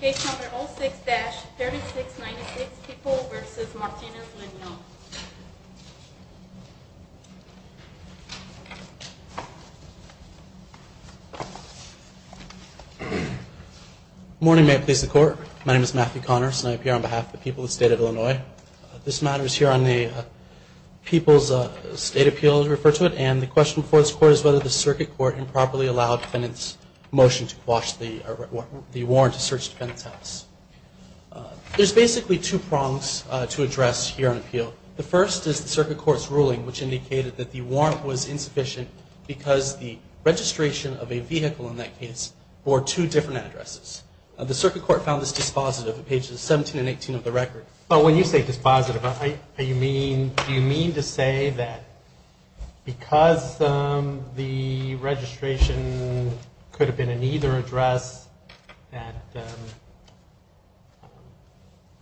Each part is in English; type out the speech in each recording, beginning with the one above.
Case number 06-3696, People v. Martinez, Lenyoun Good morning. May it please the Court. My name is Matthew Connors and I appear on behalf of the people of the State of Illinois. This matter is here on the People's State Appeal, as we refer to it. And the question before this Court is whether the Circuit Court improperly allowed the defendant's motion to quash the warrant to search the defendant's house. There's basically two prongs to address here on appeal. The first is the Circuit Court's ruling which indicated that the warrant was insufficient because the registration of a vehicle in that case bore two different addresses. The Circuit Court found this dispositive at pages 17 and 18 of the record. But when you say dispositive, do you mean to say that because the registration could have been in either address that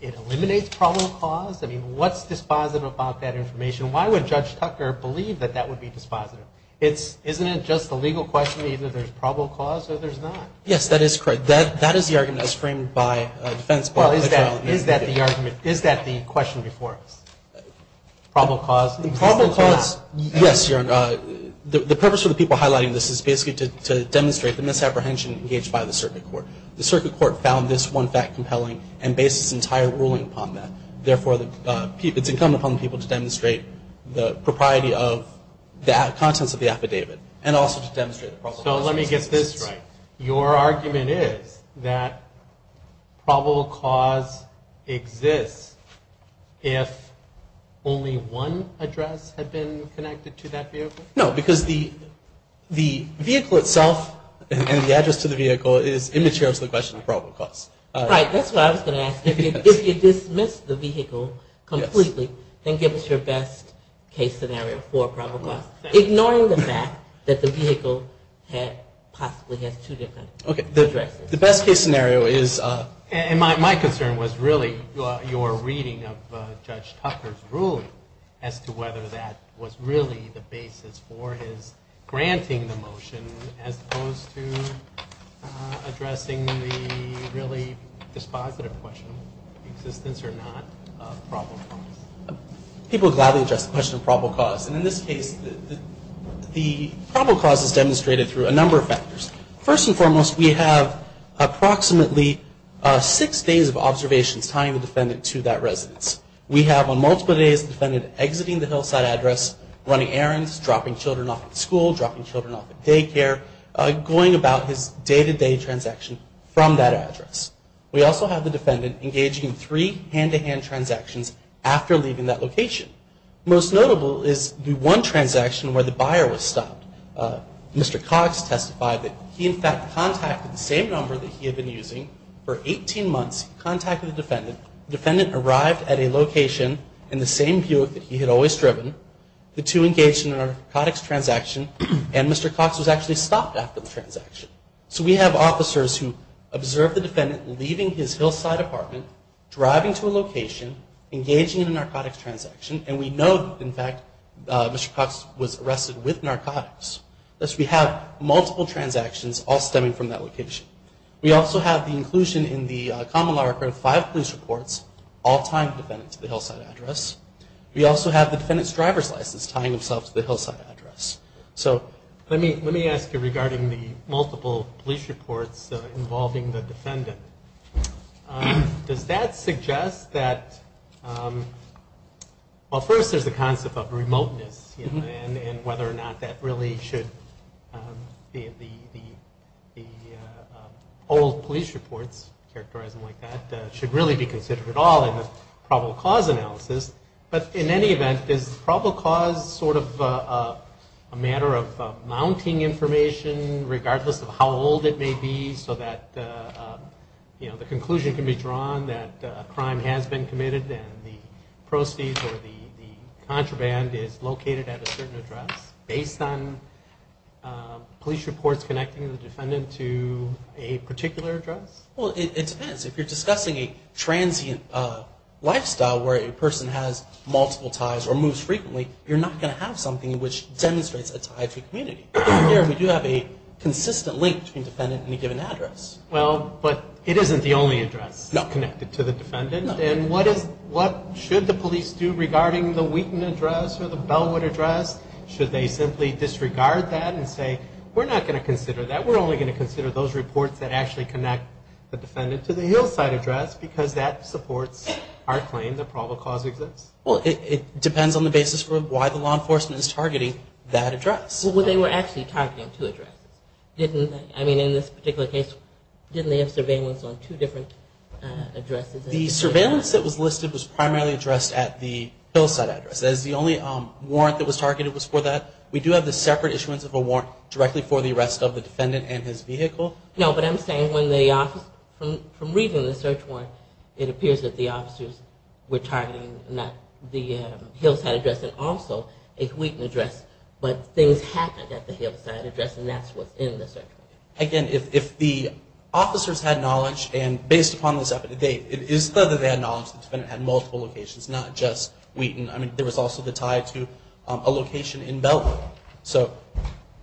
it eliminates probable cause? I mean, what's dispositive about that information? Why would Judge Tucker believe that that would be dispositive? Isn't it just a legal question, either there's probable cause or there's not? Yes, that is correct. That is the argument as framed by defense. Well, is that the argument? Is that the question before us? Probable cause? Yes, Your Honor. The purpose of the people highlighting this is basically to demonstrate the misapprehension engaged by the Circuit Court. The Circuit Court found this one fact compelling and based its entire ruling upon that. Therefore, it's incumbent upon the people to demonstrate the propriety of the contents of the affidavit and also to demonstrate the probable cause. So let me get this right. Your argument is that probable cause exists if only one address had been connected to that vehicle? No, because the vehicle itself and the address to the vehicle is immaterial to the question of probable cause. Right. That's what I was going to ask. If you dismiss the vehicle completely, then give us your best case scenario for probable cause. Ignoring the fact that the vehicle possibly has two different addresses. Okay. The best case scenario is... And my concern was really your reading of Judge Tucker's ruling as to whether that was really the basis for his granting the motion as opposed to addressing the really dispositive question of existence or not of probable cause. People gladly address the question of probable cause. And in this case, the probable cause is demonstrated through a number of factors. First and foremost, we have approximately six days of observations tying the defendant to that residence. We have on multiple days the defendant exiting the hillside address, running errands, dropping children off at school, dropping children off at daycare, going about his day-to-day transaction from that address. We also have the defendant engaging in three hand-to-hand transactions after leaving that location. Most notable is the one transaction where the buyer was stopped. Mr. Cox testified that he in fact contacted the same number that he had been using for 18 months. He contacted the defendant. The defendant arrived at a location in the same Buick that he had always driven. The two engaged in an narcotics transaction, and Mr. Cox was actually stopped after the transaction. So we have officers who observe the defendant leaving his hillside apartment, driving to a location, engaging in a narcotics transaction. And we know that, in fact, Mr. Cox was arrested with narcotics. Thus, we have multiple transactions all stemming from that location. We also have the inclusion in the common law record of five police reports all tying the defendant to the hillside address. We also have the defendant's driver's license tying himself to the hillside address. So let me ask you regarding the multiple police reports involving the defendant. Does that suggest that, well, first there's the concept of remoteness and whether or not that really should be the old police reports, characterizing like that, should really be considered at all in the probable cause analysis. But in any event, is probable cause sort of a matter of mounting information, regardless of how old it may be, so that the conclusion can be drawn that a crime has been committed and the proceeds or the contraband is located at a certain address, based on police reports connecting the defendant to a particular address? Well, it depends. If you're discussing a transient lifestyle where a person has multiple ties or moves frequently, you're not going to have something which demonstrates a tie to a community. Here we do have a consistent link between defendant and a given address. Well, but it isn't the only address connected to the defendant. And what should the police do regarding the Wheaton address or the Bellwood address? Should they simply disregard that and say, we're not going to consider that. We're only going to consider those reports that actually connect the defendant to the Hillside address, because that supports our claim that probable cause exists. Well, it depends on the basis for why the law enforcement is targeting that address. Well, they were actually targeting two addresses, didn't they? I mean, in this particular case, didn't they have surveillance on two different addresses? The surveillance that was listed was primarily addressed at the Hillside address. The only warrant that was targeted was for that. We do have the separate issuance of a warrant directly for the arrest of the defendant and his vehicle. No, but I'm saying from reading the search warrant, it appears that the officers were targeting the Hillside address and also a Wheaton address, but things happened at the Hillside address, and that's what's in the search warrant. Again, if the officers had knowledge, and based upon this up to date, it is clear that they had knowledge that the defendant had multiple locations, not just Wheaton. I mean, there was also the tie to a location in Bellwood. So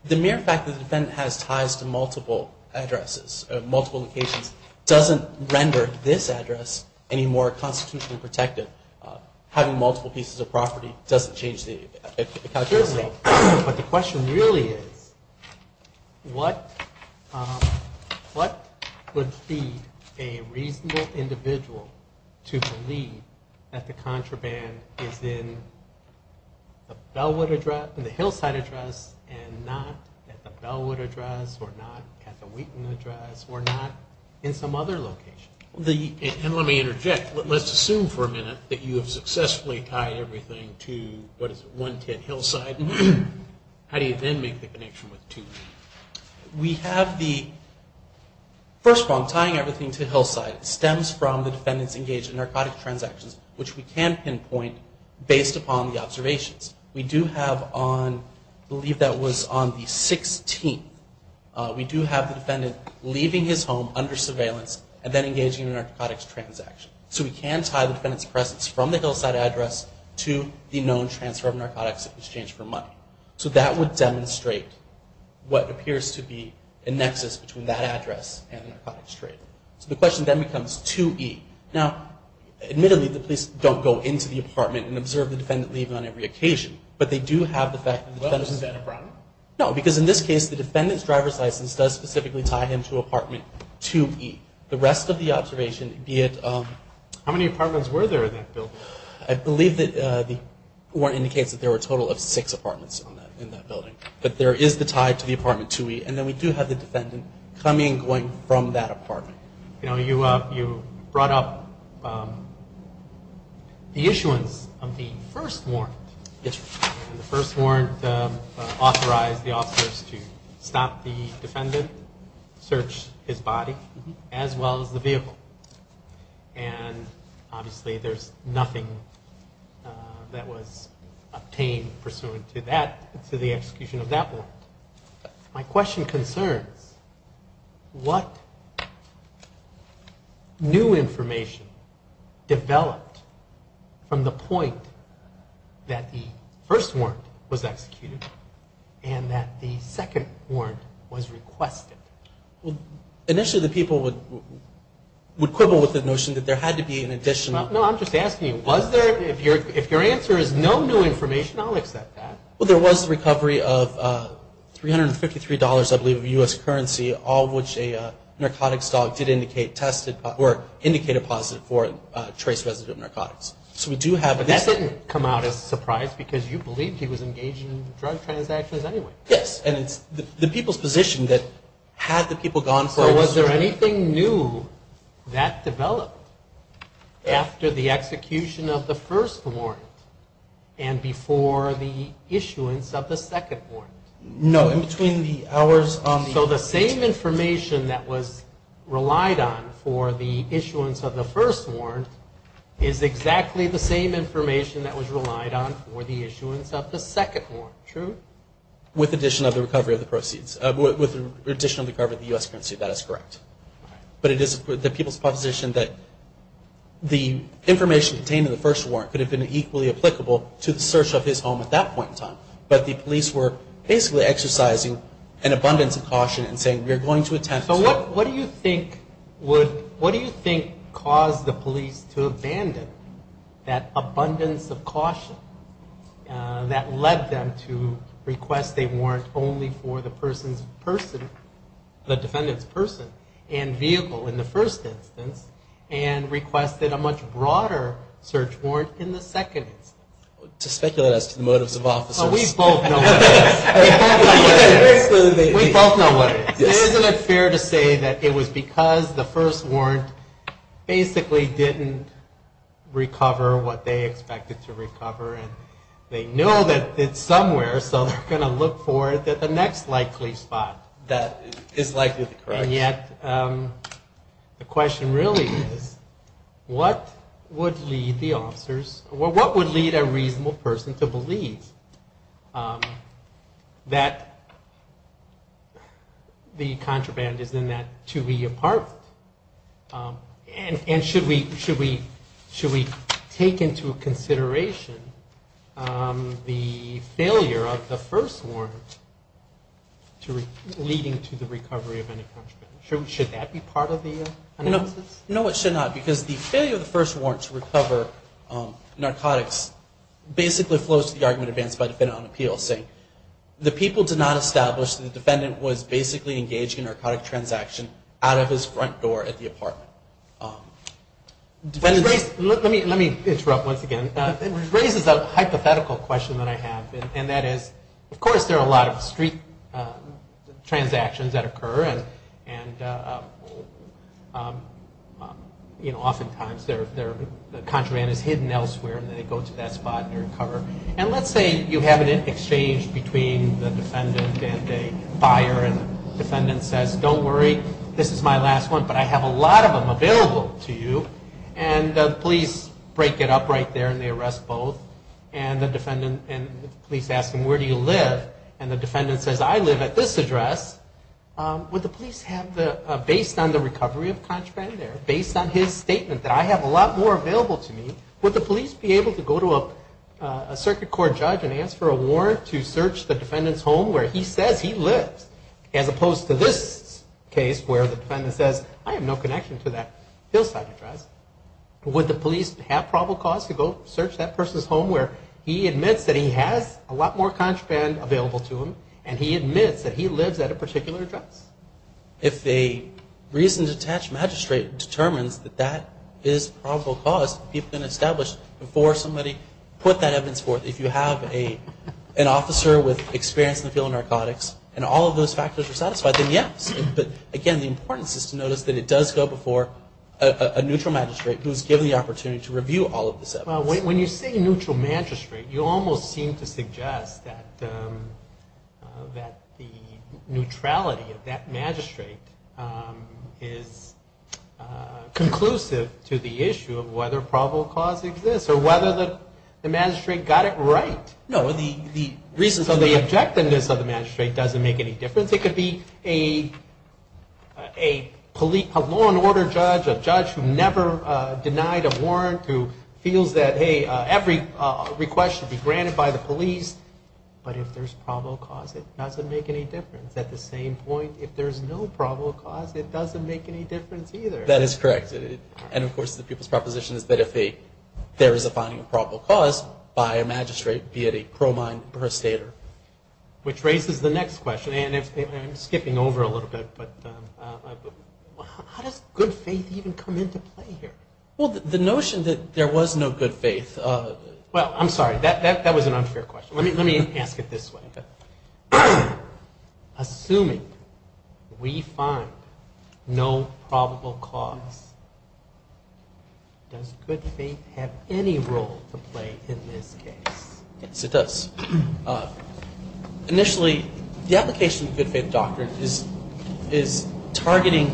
the mere fact that the defendant has ties to multiple addresses, multiple locations, doesn't render this address any more constitutionally protected. Having multiple pieces of property doesn't change the calculation. But the question really is, what would feed a reasonable individual to believe that the contraband is in the Hillside address and not at the Bellwood address or not at the Wheaton address or not in some other location? And let me interject. Let's assume for a minute that you have successfully tied everything to, what is it, 110 Hillside. How do you then make the connection with 210? We have the first prong, tying everything to Hillside, stems from the defendant's engaged in narcotic transactions, which we can pinpoint based upon the observations. We do have on, I believe that was on the 16th, we do have the defendant leaving his home under surveillance and then engaging in a narcotics transaction. So we can tie the defendant's presence from the Hillside address to the known transfer of narcotics in exchange for money. So that would demonstrate what appears to be a nexus between that address and the narcotics trade. So the question then becomes 2E. Now, admittedly, the police don't go into the apartment and observe the defendant leaving on every occasion, but they do have the fact that the defendant's... Well, isn't that a problem? The rest of the observation, be it... How many apartments were there in that building? I believe that the warrant indicates that there were a total of six apartments in that building. But there is the tie to the apartment 2E, and then we do have the defendant coming and going from that apartment. You know, you brought up the issuance of the first warrant. Yes, sir. The first warrant authorized the officers to stop the defendant, search his body, as well as the vehicle. And obviously there's nothing that was obtained pursuant to that, to the execution of that warrant. My question concerns what new information developed from the point that the first warrant was executed and that the second warrant was requested. Well, initially the people would quibble with the notion that there had to be an additional... No, I'm just asking you, was there? If your answer is no new information, I'll accept that. Well, there was the recovery of $353, I believe, of U.S. currency, all of which a narcotics dog did indicate tested or indicated positive for trace residue of narcotics. So we do have... But that didn't come out as a surprise because you believed he was engaged in drug transactions anyway. Yes, and it's the people's position that had the people gone for... So was there anything new that developed after the execution of the first warrant and before the issuance of the second warrant? No, in between the hours on the... So the same information that was relied on for the issuance of the first warrant is exactly the same information that was relied on for the issuance of the second warrant, true? With addition of the recovery of the proceeds. With additional recovery of the U.S. currency, that is correct. But it is the people's position that the information contained in the first warrant could have been equally applicable to the search of his home at that point in time. But the police were basically exercising an abundance of caution and saying, we are going to attempt to... So what do you think would... What do you think caused the police to abandon that abundance of caution that led them to request a warrant only for the person's person, the defendant's person and vehicle in the first instance and requested a much broader search warrant in the second instance? To speculate as to the motives of officers. We both know what it is. We both know what it is. Isn't it fair to say that it was because the first warrant basically didn't recover what they expected to recover, and they know that it's somewhere, so they're going to look for it at the next likely spot that is likely to correct. And yet the question really is, what would lead the officers, what would lead a reasonable person to believe that the contraband is in that 2E apartment? And should we take into consideration the failure of the first warrant leading to the recovery of any contraband? Should that be part of the analysis? No, it should not. Because the failure of the first warrant to recover narcotics basically flows to the argument advanced by the defendant on appeal, saying the people did not establish that the defendant was basically engaging in a narcotic transaction out of his front door at the apartment. Let me interrupt once again. It raises a hypothetical question that I have, and that is of course there are a lot of street transactions that occur, and oftentimes the contraband is hidden elsewhere, and they go to that spot and recover. And let's say you have an exchange between the defendant and a buyer, and the defendant says, don't worry, this is my last one, but I have a lot of them available to you. And the police break it up right there, and they arrest both. And the police ask them, where do you live? And the defendant says, I live at this address. Would the police have the, based on the recovery of contraband there, based on his statement that I have a lot more available to me, would the police be able to go to a circuit court judge and ask for a warrant to search the defendant's home where he says he lives, as opposed to this case where the defendant says, I have no connection to that hillside address. Would the police have probable cause to go search that person's home where he admits that he has a lot more contraband available to him, and he admits that he lives at a particular address? If a reasoned, detached magistrate determines that that is probable cause, people can establish before somebody put that evidence forth. If you have an officer with experience in the field of narcotics, and all of those factors are satisfied, then yes. But again, the importance is to notice that it does go before a neutral magistrate who is given the opportunity to review all of the evidence. When you say neutral magistrate, you almost seem to suggest that the neutrality of that magistrate is conclusive to the issue of whether probable cause exists, or whether the magistrate got it right. So the objectiveness of the magistrate doesn't make any difference. It could be a law and order judge, a judge who never denied a warrant, who feels that every request should be granted by the police. But if there's probable cause, it doesn't make any difference. At the same point, if there's no probable cause, it doesn't make any difference either. That is correct. And, of course, the people's proposition is that if there is a finding of probable cause, by a magistrate, be it a cromine or a stater. Which raises the next question, and I'm skipping over a little bit, but how does good faith even come into play here? Well, the notion that there was no good faith. Well, I'm sorry. That was an unfair question. Let me ask it this way. Assuming we find no probable cause, does good faith have any role to play in this case? Yes, it does. Initially, the application of the good faith doctrine is targeting,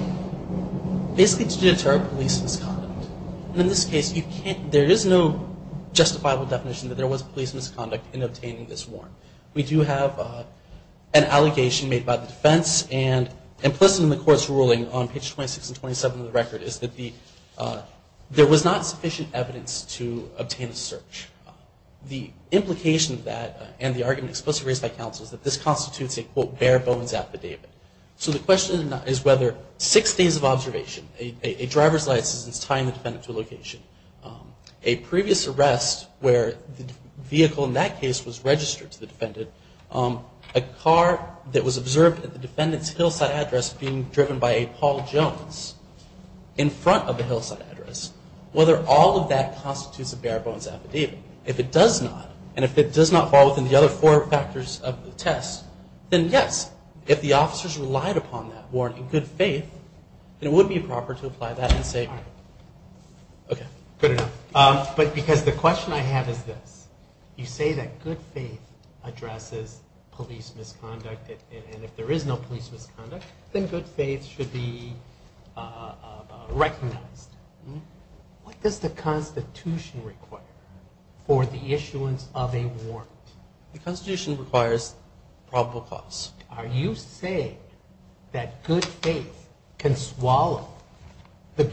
basically to deter police misconduct. And in this case, there is no justifiable definition that there was police misconduct in obtaining this warrant. We do have an allegation made by the defense, and implicit in the court's ruling on page 26 and 27 of the record, is that there was not sufficient evidence to obtain a search. The implication of that, and the argument explicitly raised by counsel, is that this constitutes a, quote, bare bones affidavit. So the question is whether six days of observation, a driver's license tying the defendant to a location, a previous arrest where the vehicle in that case was registered to the defendant, a car that was observed at the defendant's hillside address being driven by a Paul Jones in front of the hillside address, whether all of that constitutes a bare bones affidavit. If it does not, and if it does not fall within the other four factors of the test, then yes, if the officers relied upon that warrant in good faith, then it would be proper to apply that and say, okay, good enough. But because the question I have is this. You say that good faith addresses police misconduct, and if there is no police misconduct, then good faith should be recognized. What does the Constitution require for the issuance of a warrant? The Constitution requires probable cause. Are you saying that good faith can swallow the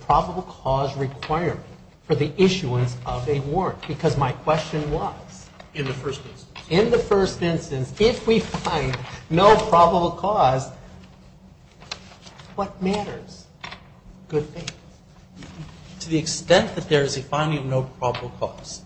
probable cause requirement for the issuance of a warrant? Because my question was, in the first instance, if we find no probable cause, what matters? Good faith. To the extent that there is a finding of no probable cause,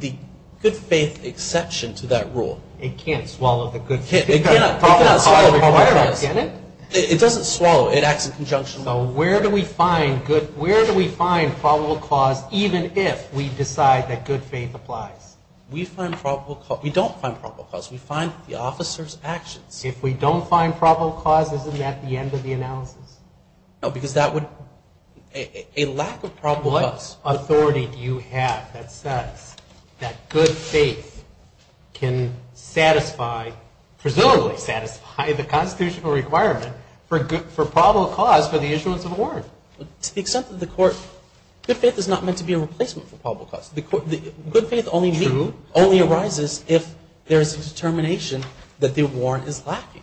the good faith exception to that rule. It can't swallow the good faith requirement, can it? It doesn't swallow. It acts in conjunction. So where do we find probable cause even if we decide that good faith applies? We don't find probable cause. We find the officer's actions. If we don't find probable cause, isn't that the end of the analysis? No, because that would be a lack of probable cause. What authority do you have that says that good faith can satisfy, presumably satisfy the constitutional requirement for probable cause for the issuance of a warrant? To the extent that the court – good faith is not meant to be a replacement for probable cause. Good faith only arises if there is a determination that the warrant is lacking.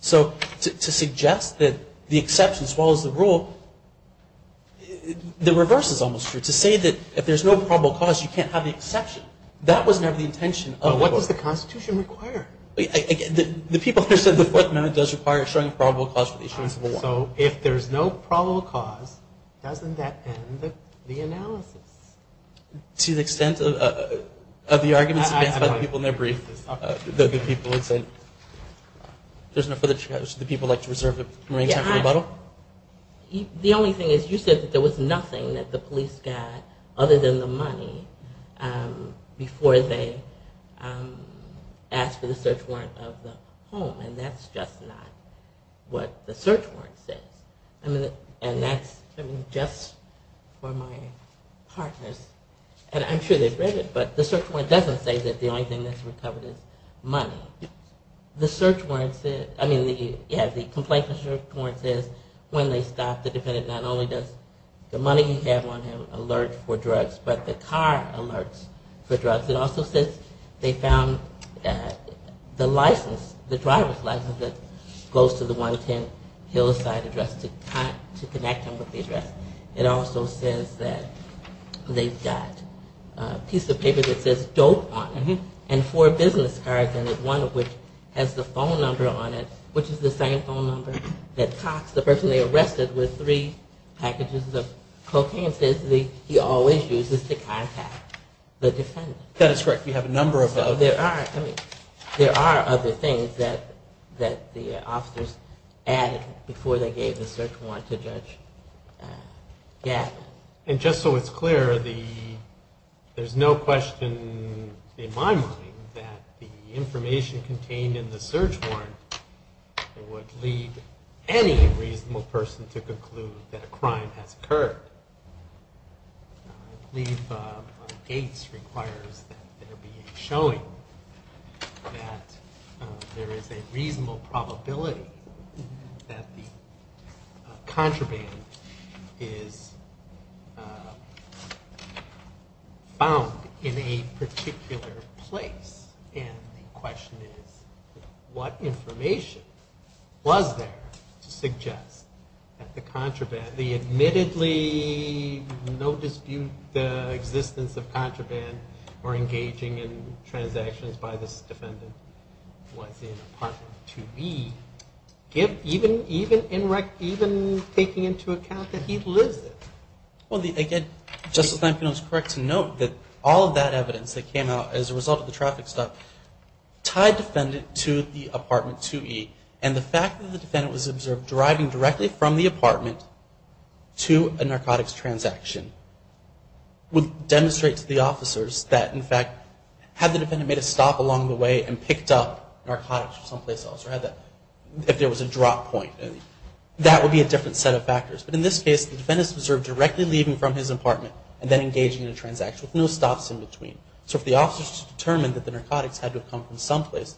So to suggest that the exception swallows the rule, the reverse is almost true. To say that if there's no probable cause, you can't have the exception, that was never the intention of the court. But what does the Constitution require? The people who said the Fourth Amendment does require a strong probable cause for the issuance of a warrant. So if there's no probable cause, doesn't that end the analysis? To the extent of the arguments advanced by the people in their brief, the people who said – there's no further – the people like to reserve the remaining time for rebuttal? The only thing is you said that there was nothing that the police got other than the money before they asked for the search warrant of the home, and that's just not what the search warrant says. And that's just for my partners. And I'm sure they've read it, but the search warrant doesn't say that the only thing that's recovered is money. The search warrant – I mean, yeah, the complaint search warrant says when they stop, the defendant not only does the money you have on him alert for drugs, but the car alerts for drugs. It also says they found the license, the driver's license, that goes to the 110 Hillside address to connect them with the address. It also says that they've got a piece of paper that says dope on it, and four business cards in it, one of which has the phone number on it, which is the same phone number that Cox, the person they arrested, with three packages of cocaine, says he always uses to contact the defendant. That is correct. We have a number of – So there are – I mean, there are other things that the officers added before they gave the search warrant to Judge Gap. And just so it's clear, there's no question in my mind that the information contained in the search warrant would lead any reasonable person to conclude that a crime has occurred. I believe Gates requires that there be a showing that there is a reasonable probability that the contraband is found in a particular place. And the question is what information was there to suggest that the contraband – the admittedly no dispute the existence of contraband or engaging in transactions by this defendant was in apartment 2E, even taking into account that he lives there? Well, again, Justice Lankin was correct to note that all of that evidence that came out as a result of the traffic stop tied defendant to the apartment 2E. And the fact that the defendant was observed driving directly from the apartment to a narcotics transaction would demonstrate to the officers that, in fact, had the defendant made a stop along the way and picked up narcotics from someplace else or had that – if there was a drop point, that would be a different set of factors. But in this case, the defendant was observed directly leaving from his apartment and then engaging in a transaction with no stops in between. So if the officers determined that the narcotics had to have come from someplace,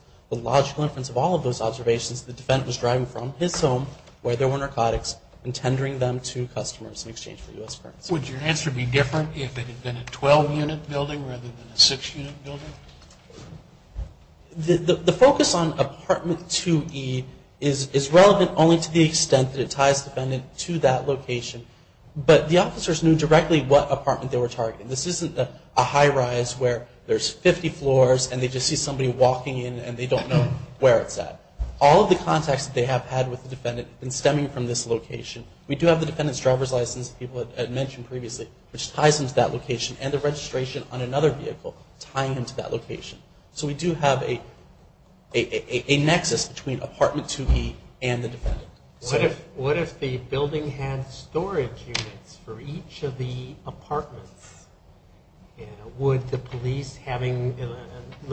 where there were narcotics and tendering them to customers in exchange for U.S. currency. Would your answer be different if it had been a 12-unit building rather than a 6-unit building? The focus on apartment 2E is relevant only to the extent that it ties the defendant to that location. But the officers knew directly what apartment they were targeting. This isn't a high-rise where there's 50 floors and they just see somebody walking in and they don't know where it's at. All of the contacts that they have had with the defendant have been stemming from this location. We do have the defendant's driver's license, people had mentioned previously, which ties him to that location and the registration on another vehicle tying him to that location. So we do have a nexus between apartment 2E and the defendant. What if the building had storage units for each of the apartments? Let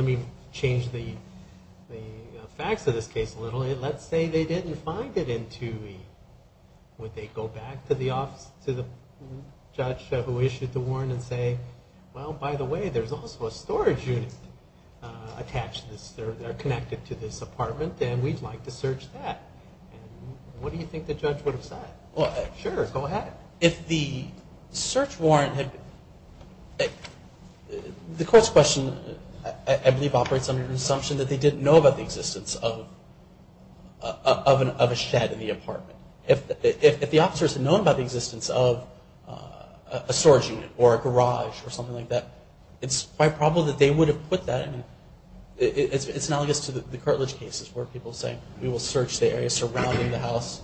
me change the facts of this case a little. Let's say they didn't find it in 2E. Would they go back to the judge who issued the warrant and say, well, by the way, there's also a storage unit attached to this, they're connected to this apartment and we'd like to search that? What do you think the judge would have said? Sure, go ahead. If the search warrant had, the court's question, I believe, operates under the assumption that they didn't know about the existence of a shed in the apartment. If the officers had known about the existence of a storage unit or a garage or something like that, it's quite probable that they would have put that in. It's analogous to the curtilage cases where people say, we will search the area surrounding the house.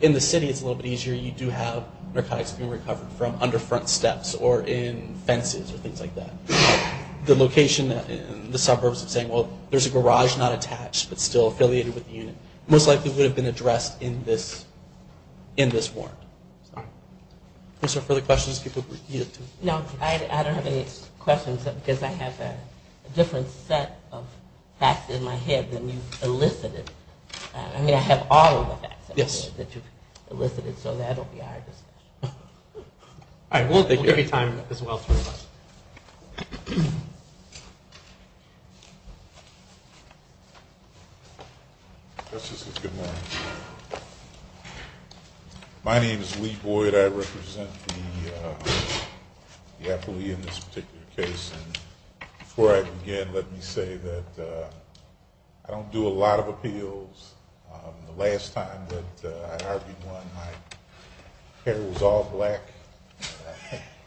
In the city it's a little bit easier. You do have narcotics being recovered from under front steps or in fences or things like that. The location in the suburbs of saying, well, there's a garage not attached but still affiliated with the unit, most likely would have been addressed in this warrant. Are there further questions? No, I don't have any questions because I have a different set of facts in my head than you elicited. I mean, I have all of the facts in my head that you've elicited, so that will be hard to say. All right, we'll give you time as well to respond. Justice, good morning. My name is Lee Boyd. I represent the affilee in this particular case. Before I begin, let me say that I don't do a lot of appeals. The last time that I argued one, my hair was all black,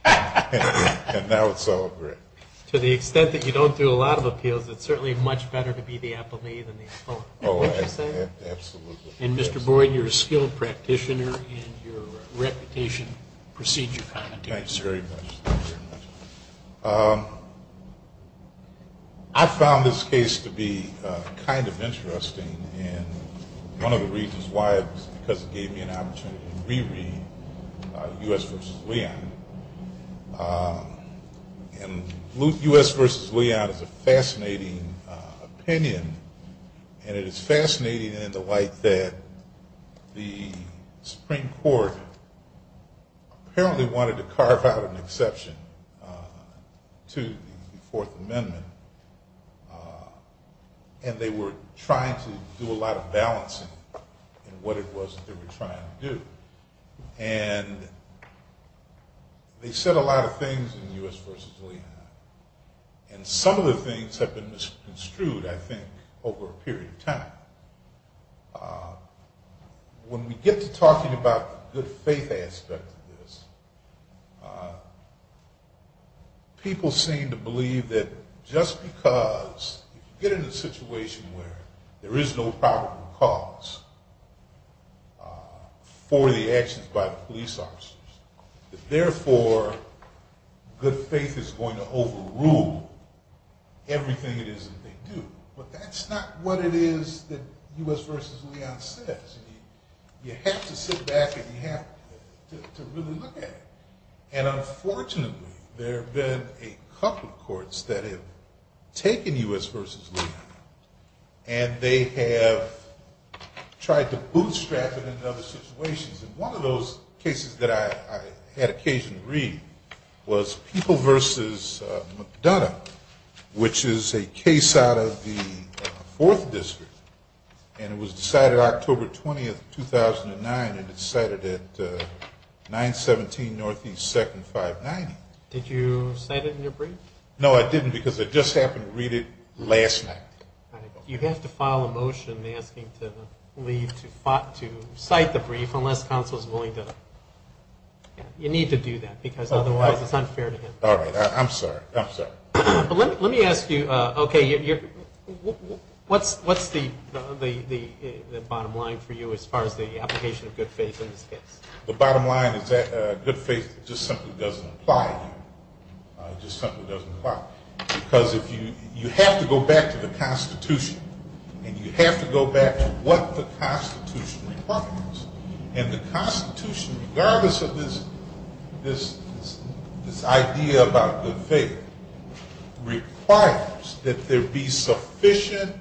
and now it's all gray. To the extent that you don't do a lot of appeals, it's certainly much better to be the affilee than the opponent, wouldn't you say? Oh, absolutely. And, Mr. Boyd, you're a skilled practitioner and your reputation precedes you. Thanks very much. I found this case to be kind of interesting, and one of the reasons why is because it gave me an opportunity to re-read U.S. v. Leon. And U.S. v. Leon is a fascinating opinion, and it is fascinating in the light that the Supreme Court apparently wanted to carve out an exception to the Fourth Amendment, and they were trying to do a lot of balancing in what it was that they were trying to do. And they said a lot of things in U.S. v. Leon, and some of the things have been misconstrued, I think, over a period of time. When we get to talking about the good faith aspect of this, people seem to believe that just because you get in a situation where there is no probable cause for the actions by the police officers, that, therefore, good faith is going to overrule everything it is that they do. But that's not what it is that U.S. v. Leon says. You have to sit back and you have to really look at it. And, unfortunately, there have been a couple of courts that have taken U.S. v. Leon, and they have tried to bootstrap it into other situations. And one of those cases that I had occasion to read was People v. McDonough, which is a case out of the Fourth District, and it was decided October 20, 2009, and it's cited at 917 Northeast 2nd, 590. Did you cite it in your brief? No, I didn't, because I just happened to read it last night. All right. You have to file a motion asking to cite the brief unless counsel is willing to. You need to do that, because otherwise it's unfair to him. All right. I'm sorry. I'm sorry. Let me ask you, okay, what's the bottom line for you as far as the application of good faith in this case? The bottom line is that good faith just simply doesn't apply. It just simply doesn't apply. Because you have to go back to the Constitution, and you have to go back to what the Constitution requires. And the Constitution, regardless of this idea about good faith, requires that there be sufficient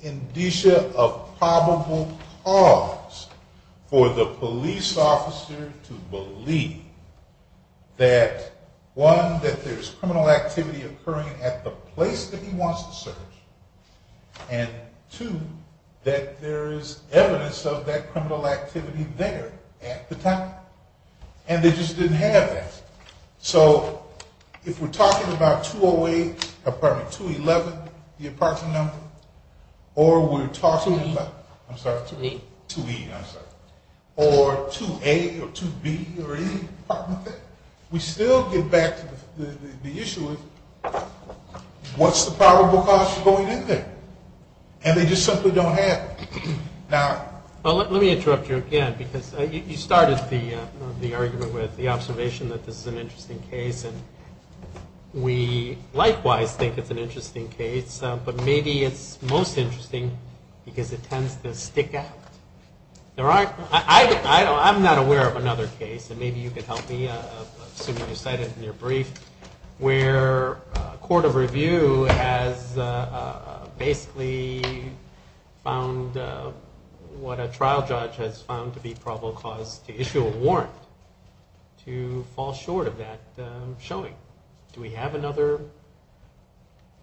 indicia of probable cause for the police officer to believe that, one, that there's criminal activity occurring at the place that he wants to search, and, two, that there is evidence of that criminal activity there at the time. And they just didn't have that. So if we're talking about 208, pardon me, 211, the apartment number, or we're talking about- 2E. I'm sorry, 2E. 2E, I'm sorry. Or 2A or 2B or any apartment there, we still get back to the issue of what's the probable cause for going in there? And they just simply don't have it. Now- Well, let me interrupt you again because you started the argument with the observation that this is an interesting case, and we likewise think it's an interesting case. But maybe it's most interesting because it tends to stick out. I'm not aware of another case, and maybe you could help me, assuming you cite it in your brief, where a court of review has basically found what a trial judge has found to be probable cause to issue a warrant to fall short of that showing. Do we have another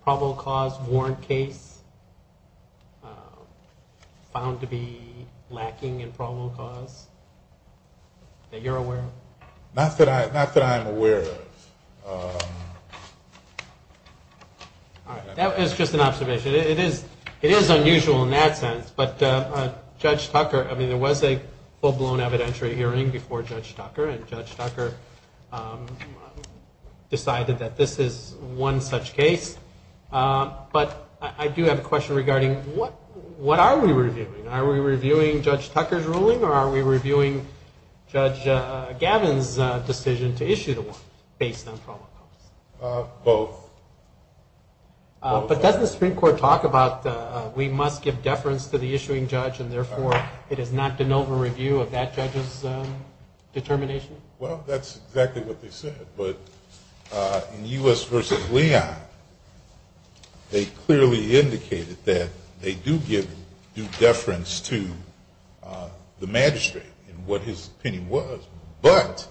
probable cause warrant case found to be lacking in probable cause that you're aware of? Not that I'm aware of. All right. That was just an observation. It is unusual in that sense. But Judge Tucker, I mean, there was a full-blown evidentiary hearing before Judge Tucker, and Judge Tucker decided that this is one such case. But I do have a question regarding what are we reviewing? Are we reviewing Judge Tucker's ruling, or are we reviewing Judge Gavin's decision to issue the warrant based on probable cause? Both. But doesn't the Supreme Court talk about we must give deference to the issuing judge, and therefore it is not an over-review of that judge's determination? Well, that's exactly what they said. But in U.S. v. Leon, they clearly indicated that they do give due deference to the magistrate in what his opinion was. But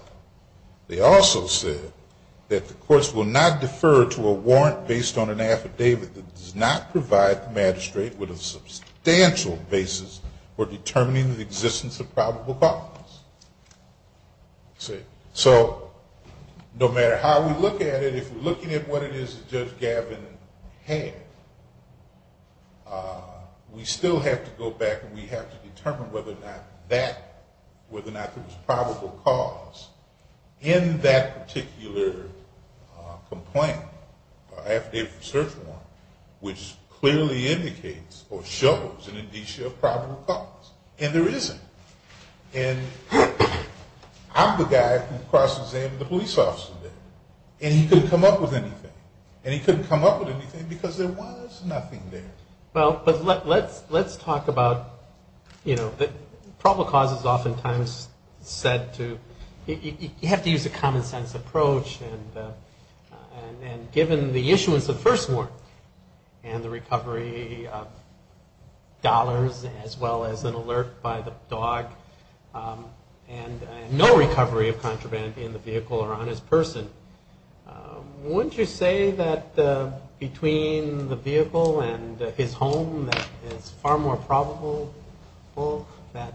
they also said that the courts will not defer to a warrant based on an affidavit that does not provide the magistrate with a substantial basis for determining the existence of probable cause. So no matter how we look at it, if we're looking at what it is that Judge Gavin had, we still have to go back and we have to determine whether or not there was probable cause in that particular complaint, affidavit search warrant, which clearly indicates or shows an indicia of probable cause. And there isn't. And I'm the guy who cross-examined the police officer there, and he couldn't come up with anything. And he couldn't come up with anything because there was nothing there. Well, but let's talk about, you know, probable cause is oftentimes said to, you have to use a common-sense approach. And given the issuance of the first warrant and the recovery of dollars as well as an alert by the dog and no recovery of contraband in the vehicle or on his person, wouldn't you say that between the vehicle and his home that it's far more probable that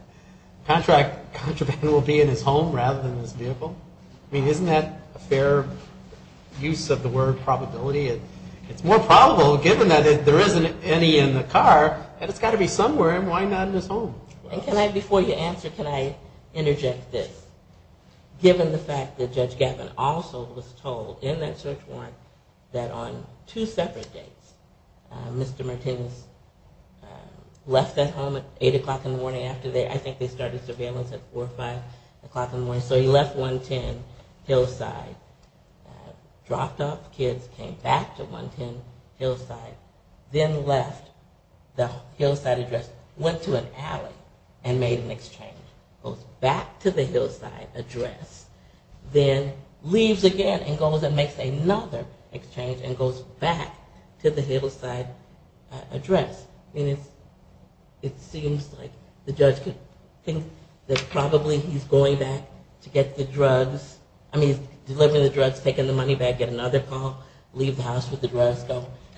contraband will be in his home rather than his vehicle? I mean, isn't that a fair use of the word probability? It's more probable, given that there isn't any in the car, that it's got to be somewhere, and why not in his home? And can I, before you answer, can I interject this? Given the fact that Judge Gavin also was told in that search warrant that on two separate dates, Mr. Martinez left that home at 8 o'clock in the morning after they, I think they started surveillance at 4 or 5 o'clock in the morning. So he left 110 Hillside, dropped off the kids, came back to 110 Hillside, then left the Hillside address, went to an alley and made an exchange, goes back to the Hillside address, then leaves again and goes and makes another exchange and goes back to the Hillside address. I mean, it seems like the judge could think that probably he's going back to get the drugs, I mean, delivering the drugs, taking the money back, get another call, leave the house with the drugs,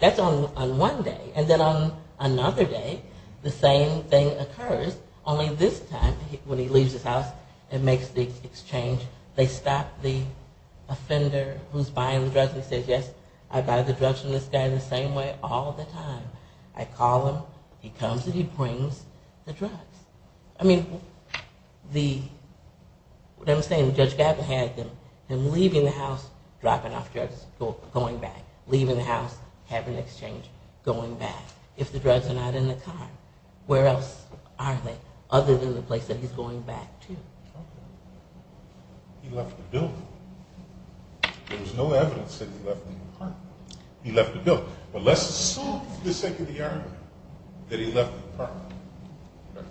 that's on one day. And then on another day, the same thing occurs, only this time, when he leaves his house and makes the exchange, they stop the offender who's buying the drugs and says, yes, I buy the drugs from this guy the same way all the time. I call him, he comes and he brings the drugs. I mean, the, what I'm saying, Judge Gavin had him leaving the house, dropping off drugs, going back. Leaving the house, having an exchange, going back. If the drugs are not in the car, where else are they other than the place that he's going back to? He left the building. There was no evidence that he left the apartment. He left the building. But let's assume for the sake of the argument that he left the apartment.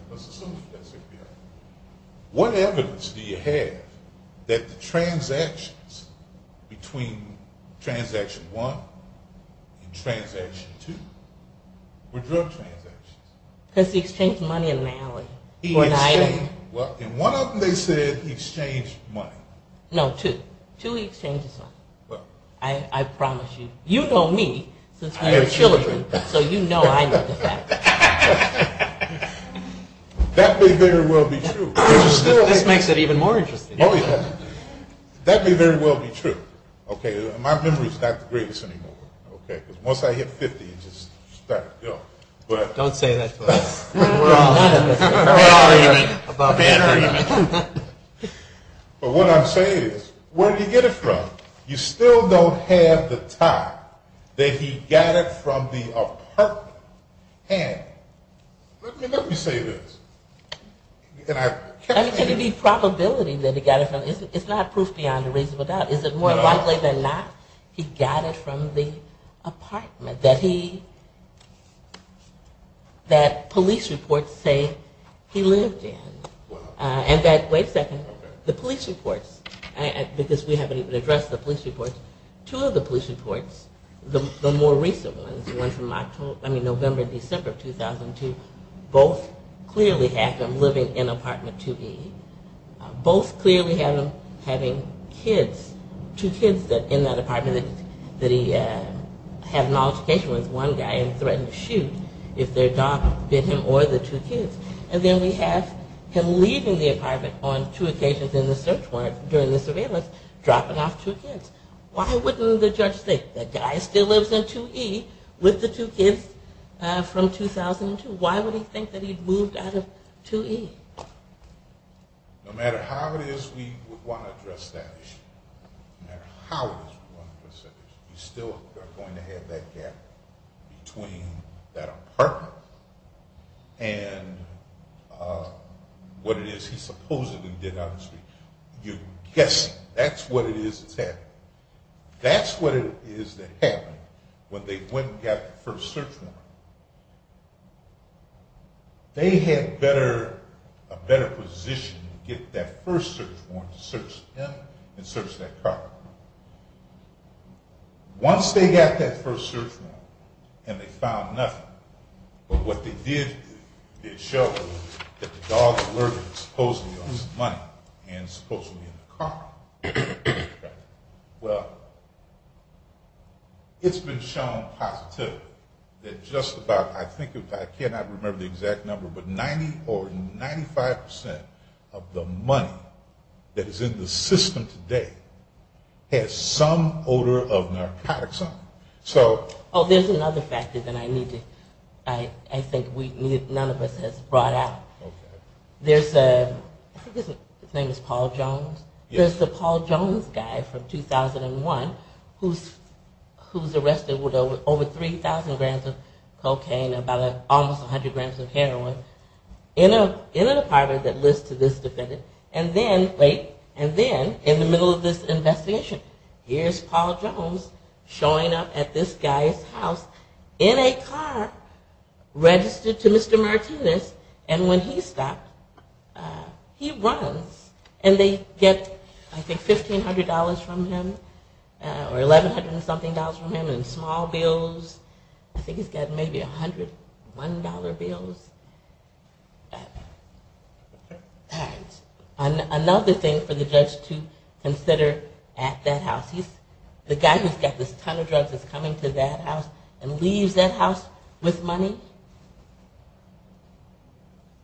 Let's assume for the sake of the argument. What evidence do you have that the transactions between transaction one and transaction two were drug transactions? Because he exchanged money in an alley. Well, in one of them they said he exchanged money. No, two. Two he exchanged his money. I promise you. You know me, since we were children, so you know I know the facts. That may very well be true. This makes it even more interesting. Oh, yeah. That may very well be true. Okay, my memory is not the greatest anymore. Okay, because once I hit 50, it just started to go. Don't say that to us. We're all having a bad argument. But what I'm saying is, where did he get it from? You still don't have the tie that he got it from the apartment. Let me say this. I mean, can it be probability that he got it from, it's not proof beyond a reasonable doubt. Is it more likely than not he got it from the apartment that he, that police reports say he lived in? And that, wait a second, the police reports, because we haven't even addressed the police reports, two of the police reports, the more recent ones, the ones from November and December of 2002, both clearly have him living in apartment 2E. Both clearly have him having kids, two kids in that apartment that he had an altercation with one guy and threatened to shoot if their dog bit him or the two kids. And then we have him leaving the apartment on two occasions in the search warrant during the surveillance, dropping off two kids. Why wouldn't the judge think the guy still lives in 2E with the two kids from 2002? Why would he think that he'd moved out of 2E? No matter how it is we want to address that issue, no matter how it is we want to address that issue, we still are going to have that gap between that apartment and what it is he supposedly did, obviously. You're guessing. That's what it is that's happening. That's what it is that happened when they went and got the first search warrant. They had a better position to get that first search warrant to search him and search that car. Once they got that first search warrant and they found nothing, but what they did, they showed that the dog allegedly lost money and was supposed to be in the car. Well, it's been shown positively that just about, I cannot remember the exact number, but 90 or 95% of the money that is in the system today has some odor of narcotics on it. Oh, there's another factor that I think none of us has brought out. Okay. There's a, I think his name is Paul Jones. Yes. There's the Paul Jones guy from 2001 who's arrested with over 3,000 grams of cocaine and about almost 100 grams of heroin in an apartment that lives to this day. And then, wait, and then in the middle of this investigation, here's Paul Jones showing up at this guy's house in a car registered to Mr. Martinez, and when he stopped, he runs. And they get, I think, $1,500 from him or $1,100 and something from him in small bills. I think he's got maybe $101 bills. Another thing for the judge to consider at that house, the guy who's got this ton of drugs is coming to that house and leaves that house with money.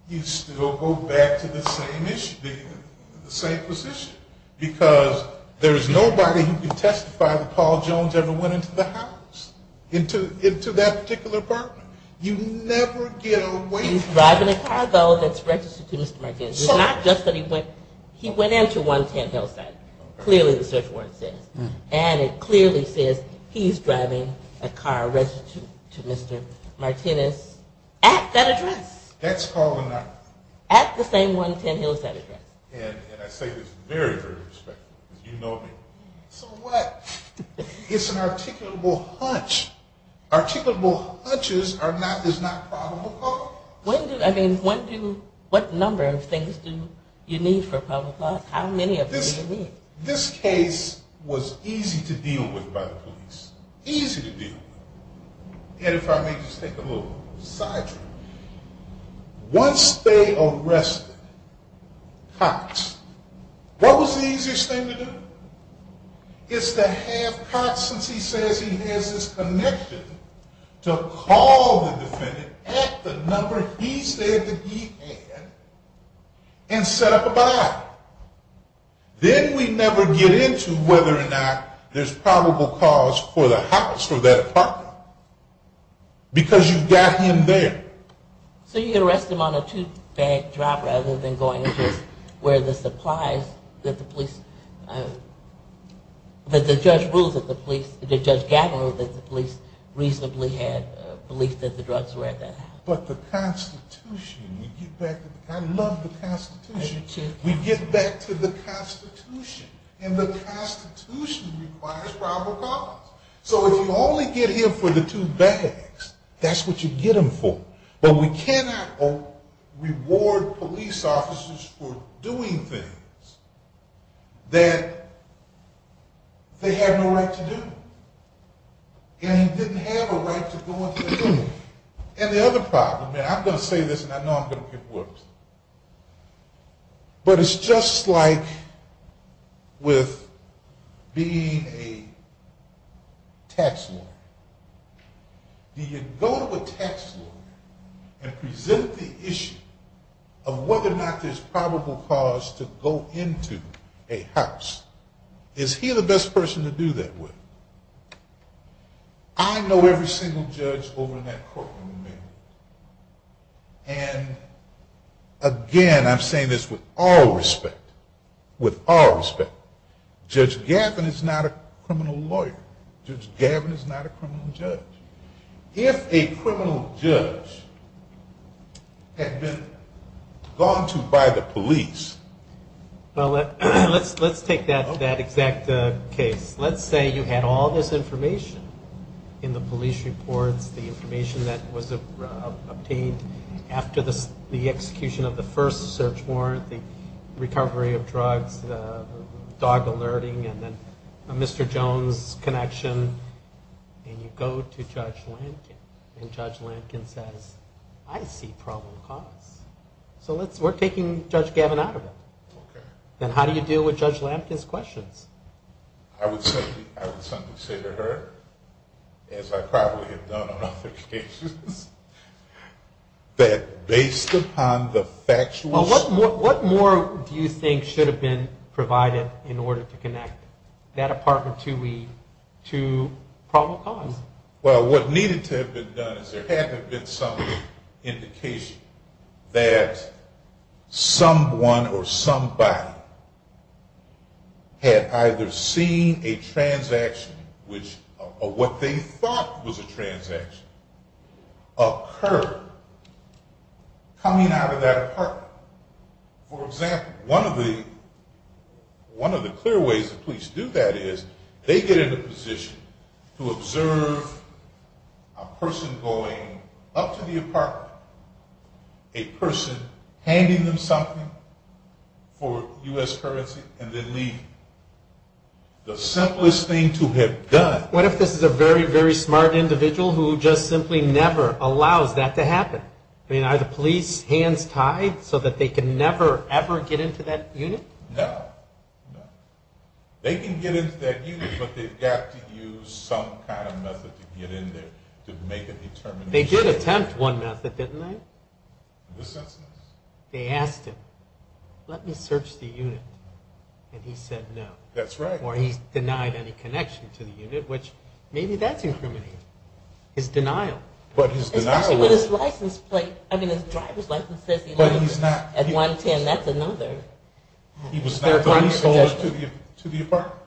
You still go back to the same issue, the same position, because there's nobody who can testify that Paul Jones ever went into the house, into that particular apartment. You never get away from that. He's driving a car, though, that's registered to Mr. Martinez. It's not just that he went into 110 Hillside, clearly the search warrant says. And it clearly says he's driving a car registered to Mr. Martinez at that address. At the same 110 Hillside address. And I say this very, very respectfully, because you know me. So what? It's an articulable hunch. Articulable hunches is not probable. When do, I mean, when do, what number of things do you need for probable cause? How many of them do you need? This case was easy to deal with by the police. Easy to deal with. And if I may just take a little side trip. Once they arrested Cox, what was the easiest thing to do? It's to have Cox, since he says he has his connection, to call the defendant at the number he said that he had and set up a body. Then we never get into whether or not there's probable cause for the house or that apartment. Because you've got him there. So you arrest him on a two-bag job rather than going just where the supplies that the police, that the judge ruled that the police, that Judge Gabler ruled that the police reasonably had belief that the drugs were at that house. But the Constitution, I love the Constitution. We get back to the Constitution. And the Constitution requires probable cause. So if you only get him for the two bags, that's what you get him for. But we cannot reward police officers for doing things that they have no right to do. And he didn't have a right to go into the room. And the other problem, and I'm going to say this and I know I'm going to get worse. But it's just like with being a tax lawyer. Do you go to a tax lawyer and present the issue of whether or not there's probable cause to go into a house? Is he the best person to do that with? I know every single judge over in that courtroom. And again, I'm saying this with all respect, with all respect, Judge Gavin is not a criminal lawyer. Judge Gavin is not a criminal judge. If a criminal judge had been gone to by the police. Well, let's take that exact case. Let's say you had all this information in the police reports, the information that was obtained after the execution of the first search warrant, the recovery of drugs, the dog alerting, and then Mr. Jones' connection. And you go to Judge Lankin. And Judge Lankin says, I see probable cause. So we're taking Judge Gavin out of it. Then how do you deal with Judge Lankin's questions? I would say to her, as I probably have done on other cases, that based upon the factual... Well, what more do you think should have been provided in order to connect that apartment to probable cause? Well, what needed to have been done is there had to have been some indication that someone or somebody had either seen a transaction, or what they thought was a transaction, occur coming out of that apartment. For example, one of the clear ways the police do that is they get in a position to observe a person going up to the apartment, a person handing them something for U.S. currency, and then leave. The simplest thing to have done... What if this is a very, very smart individual who just simply never allows that to happen? I mean, are the police hands tied so that they can never, ever get into that unit? No. They can get into that unit, but they've got to use some kind of method to get in there to make a determination. They did attempt one method, didn't they? In this instance. They asked him, let me search the unit. And he said no. That's right. Or he denied any connection to the unit, which maybe that's incriminating. His denial. Especially with his license plate. I mean, his driver's license says he lives at 110. That's another. He was not the leaseholder to the apartment.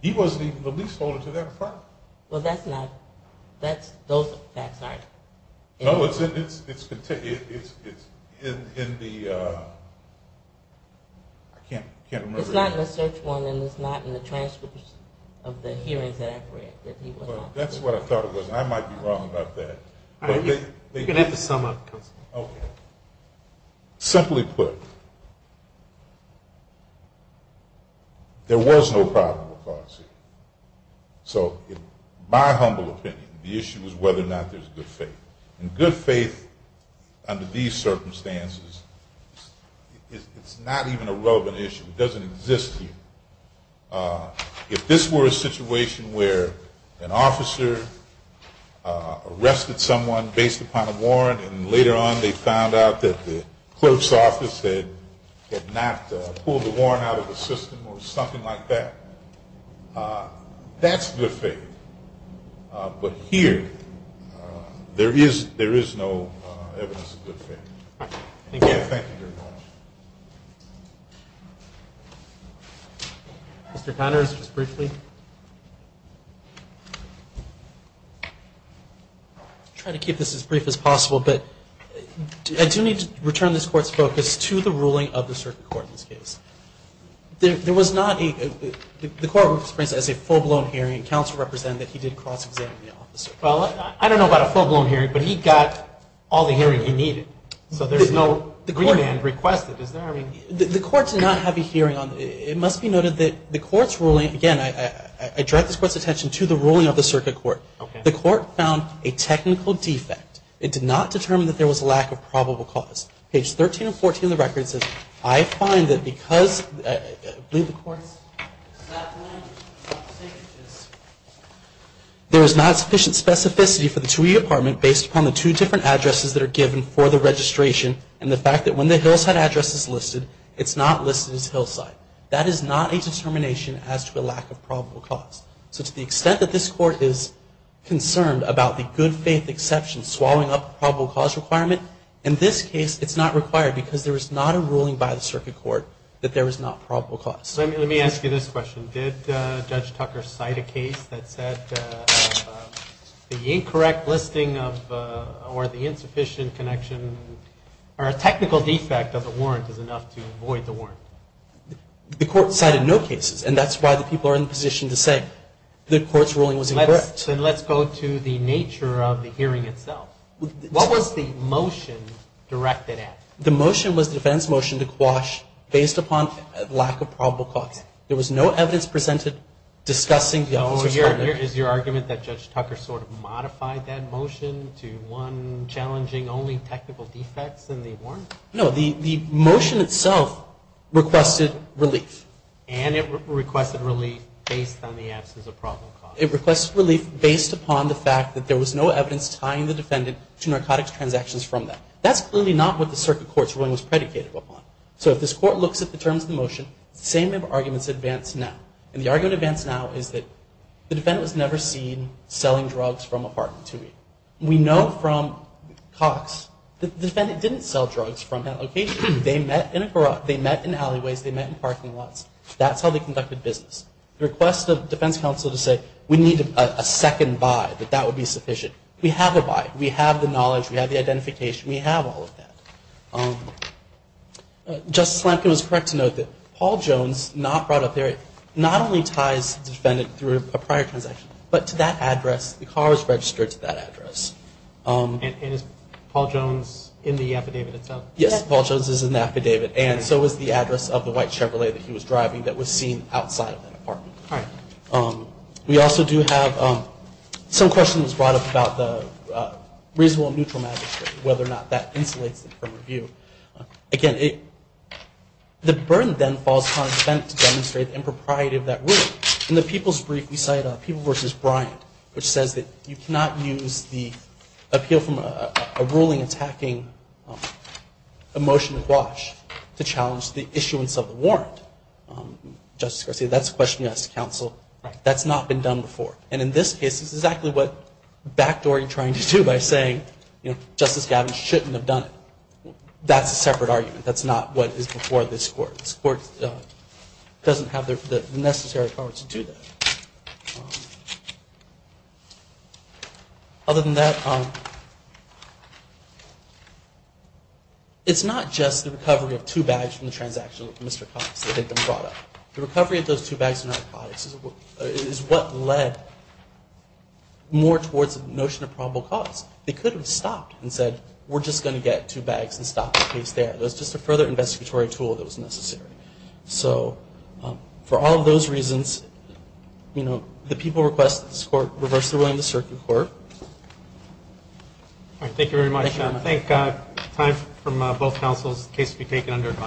He wasn't even the leaseholder to that apartment. Well, that's not... Those facts aren't... No, it's in the... It's not in the search warrant, and it's not in the transcripts of the hearings that I've read. That's what I thought it was. I might be wrong about that. You're going to have to sum up, Counselor. Okay. Simply put, there was no problem with bankruptcy. So my humble opinion, the issue is whether or not there's good faith. And good faith under these circumstances, it's not even a relevant issue. It doesn't exist here. If this were a situation where an officer arrested someone based upon a warrant, and later on they found out that the clerk's office had not pulled the warrant out of the system or something like that, that's good faith. But here, there is no evidence of good faith. Thank you. Thank you very much. Mr. Connors, just briefly. I'll try to keep this as brief as possible, but I do need to return this Court's focus to the ruling of the Circuit Court in this case. There was not a... The Court represents it as a full-blown hearing, and Counsel represent that he did cross-examine the officer. Well, I don't know about a full-blown hearing, but he got all the hearing he needed. So there's no agreement requested, is there? The Court did not have a hearing on it. It must be noted that the Court's ruling... Again, I direct this Court's attention to the ruling of the Circuit Court. Okay. The Court found a technical defect. It did not determine that there was a lack of probable cause. Page 13 and 14 of the record says, I find that because... of the specificity for the TUI apartment based upon the two different addresses that are given for the registration and the fact that when the Hillside address is listed, it's not listed as Hillside. That is not a determination as to a lack of probable cause. So to the extent that this Court is concerned about the good faith exception swallowing up probable cause requirement, in this case it's not required because there is not a ruling by the Circuit Court that there is not probable cause. Let me ask you this question. Did Judge Tucker cite a case that said the incorrect listing or the insufficient connection or a technical defect of the warrant is enough to avoid the warrant? The Court cited no cases, and that's why the people are in a position to say the Court's ruling was incorrect. Then let's go to the nature of the hearing itself. What was the motion directed at? The motion was the defense motion to quash based upon lack of probable cause. There was no evidence presented discussing... Is your argument that Judge Tucker sort of modified that motion to one challenging only technical defects in the warrant? No, the motion itself requested relief. And it requested relief based on the absence of probable cause. It requested relief based upon the fact that there was no evidence tying the defendant to narcotics transactions from that. That's clearly not what the Circuit Court's ruling was predicated upon. So if this Court looks at the terms of the motion, the same arguments advance now. And the argument advance now is that the defendant was never seen selling drugs from a park to me. We know from Cox that the defendant didn't sell drugs from that location. They met in alleyways. They met in parking lots. That's how they conducted business. The request of defense counsel to say we need a second by, that that would be sufficient. We have a by. We have the knowledge. We have the identification. We have all of that. Justice Lampkin was correct to note that Paul Jones, not brought up there, not only ties the defendant through a prior transaction, but to that address, the car was registered to that address. And is Paul Jones in the affidavit itself? Yes, Paul Jones is in the affidavit. And so is the address of the white Chevrolet that he was driving that was seen outside of that apartment. All right. We also do have some questions brought up about the reasonable and neutral magistrate, whether or not that insulates the firm review. Again, the burden then falls upon the defendant to demonstrate the impropriety of that ruling. In the people's brief, we cite People v. Bryant, which says that you cannot use the appeal from a ruling attacking a motion to quash, to challenge the issuance of the warrant. Justice Garcia, that's a question you ask the counsel. Right. That's not been done before. And in this case, it's exactly what Backdoor is trying to do by saying, you know, Justice Gavin shouldn't have done it. That's a separate argument. That's not what is before this Court. This Court doesn't have the necessary power to do that. Other than that, it's not just the recovery of two bags from the transaction of Mr. Cox. The recovery of those two bags is what led more towards the notion of probable cause. They could have stopped and said, we're just going to get two bags and stop the case there. It was just a further investigatory tool that was necessary. So for all those reasons, you know, the people request that this Court reverse the ruling of the circuit court. All right. Thank you very much. Thank you very much. Thank you.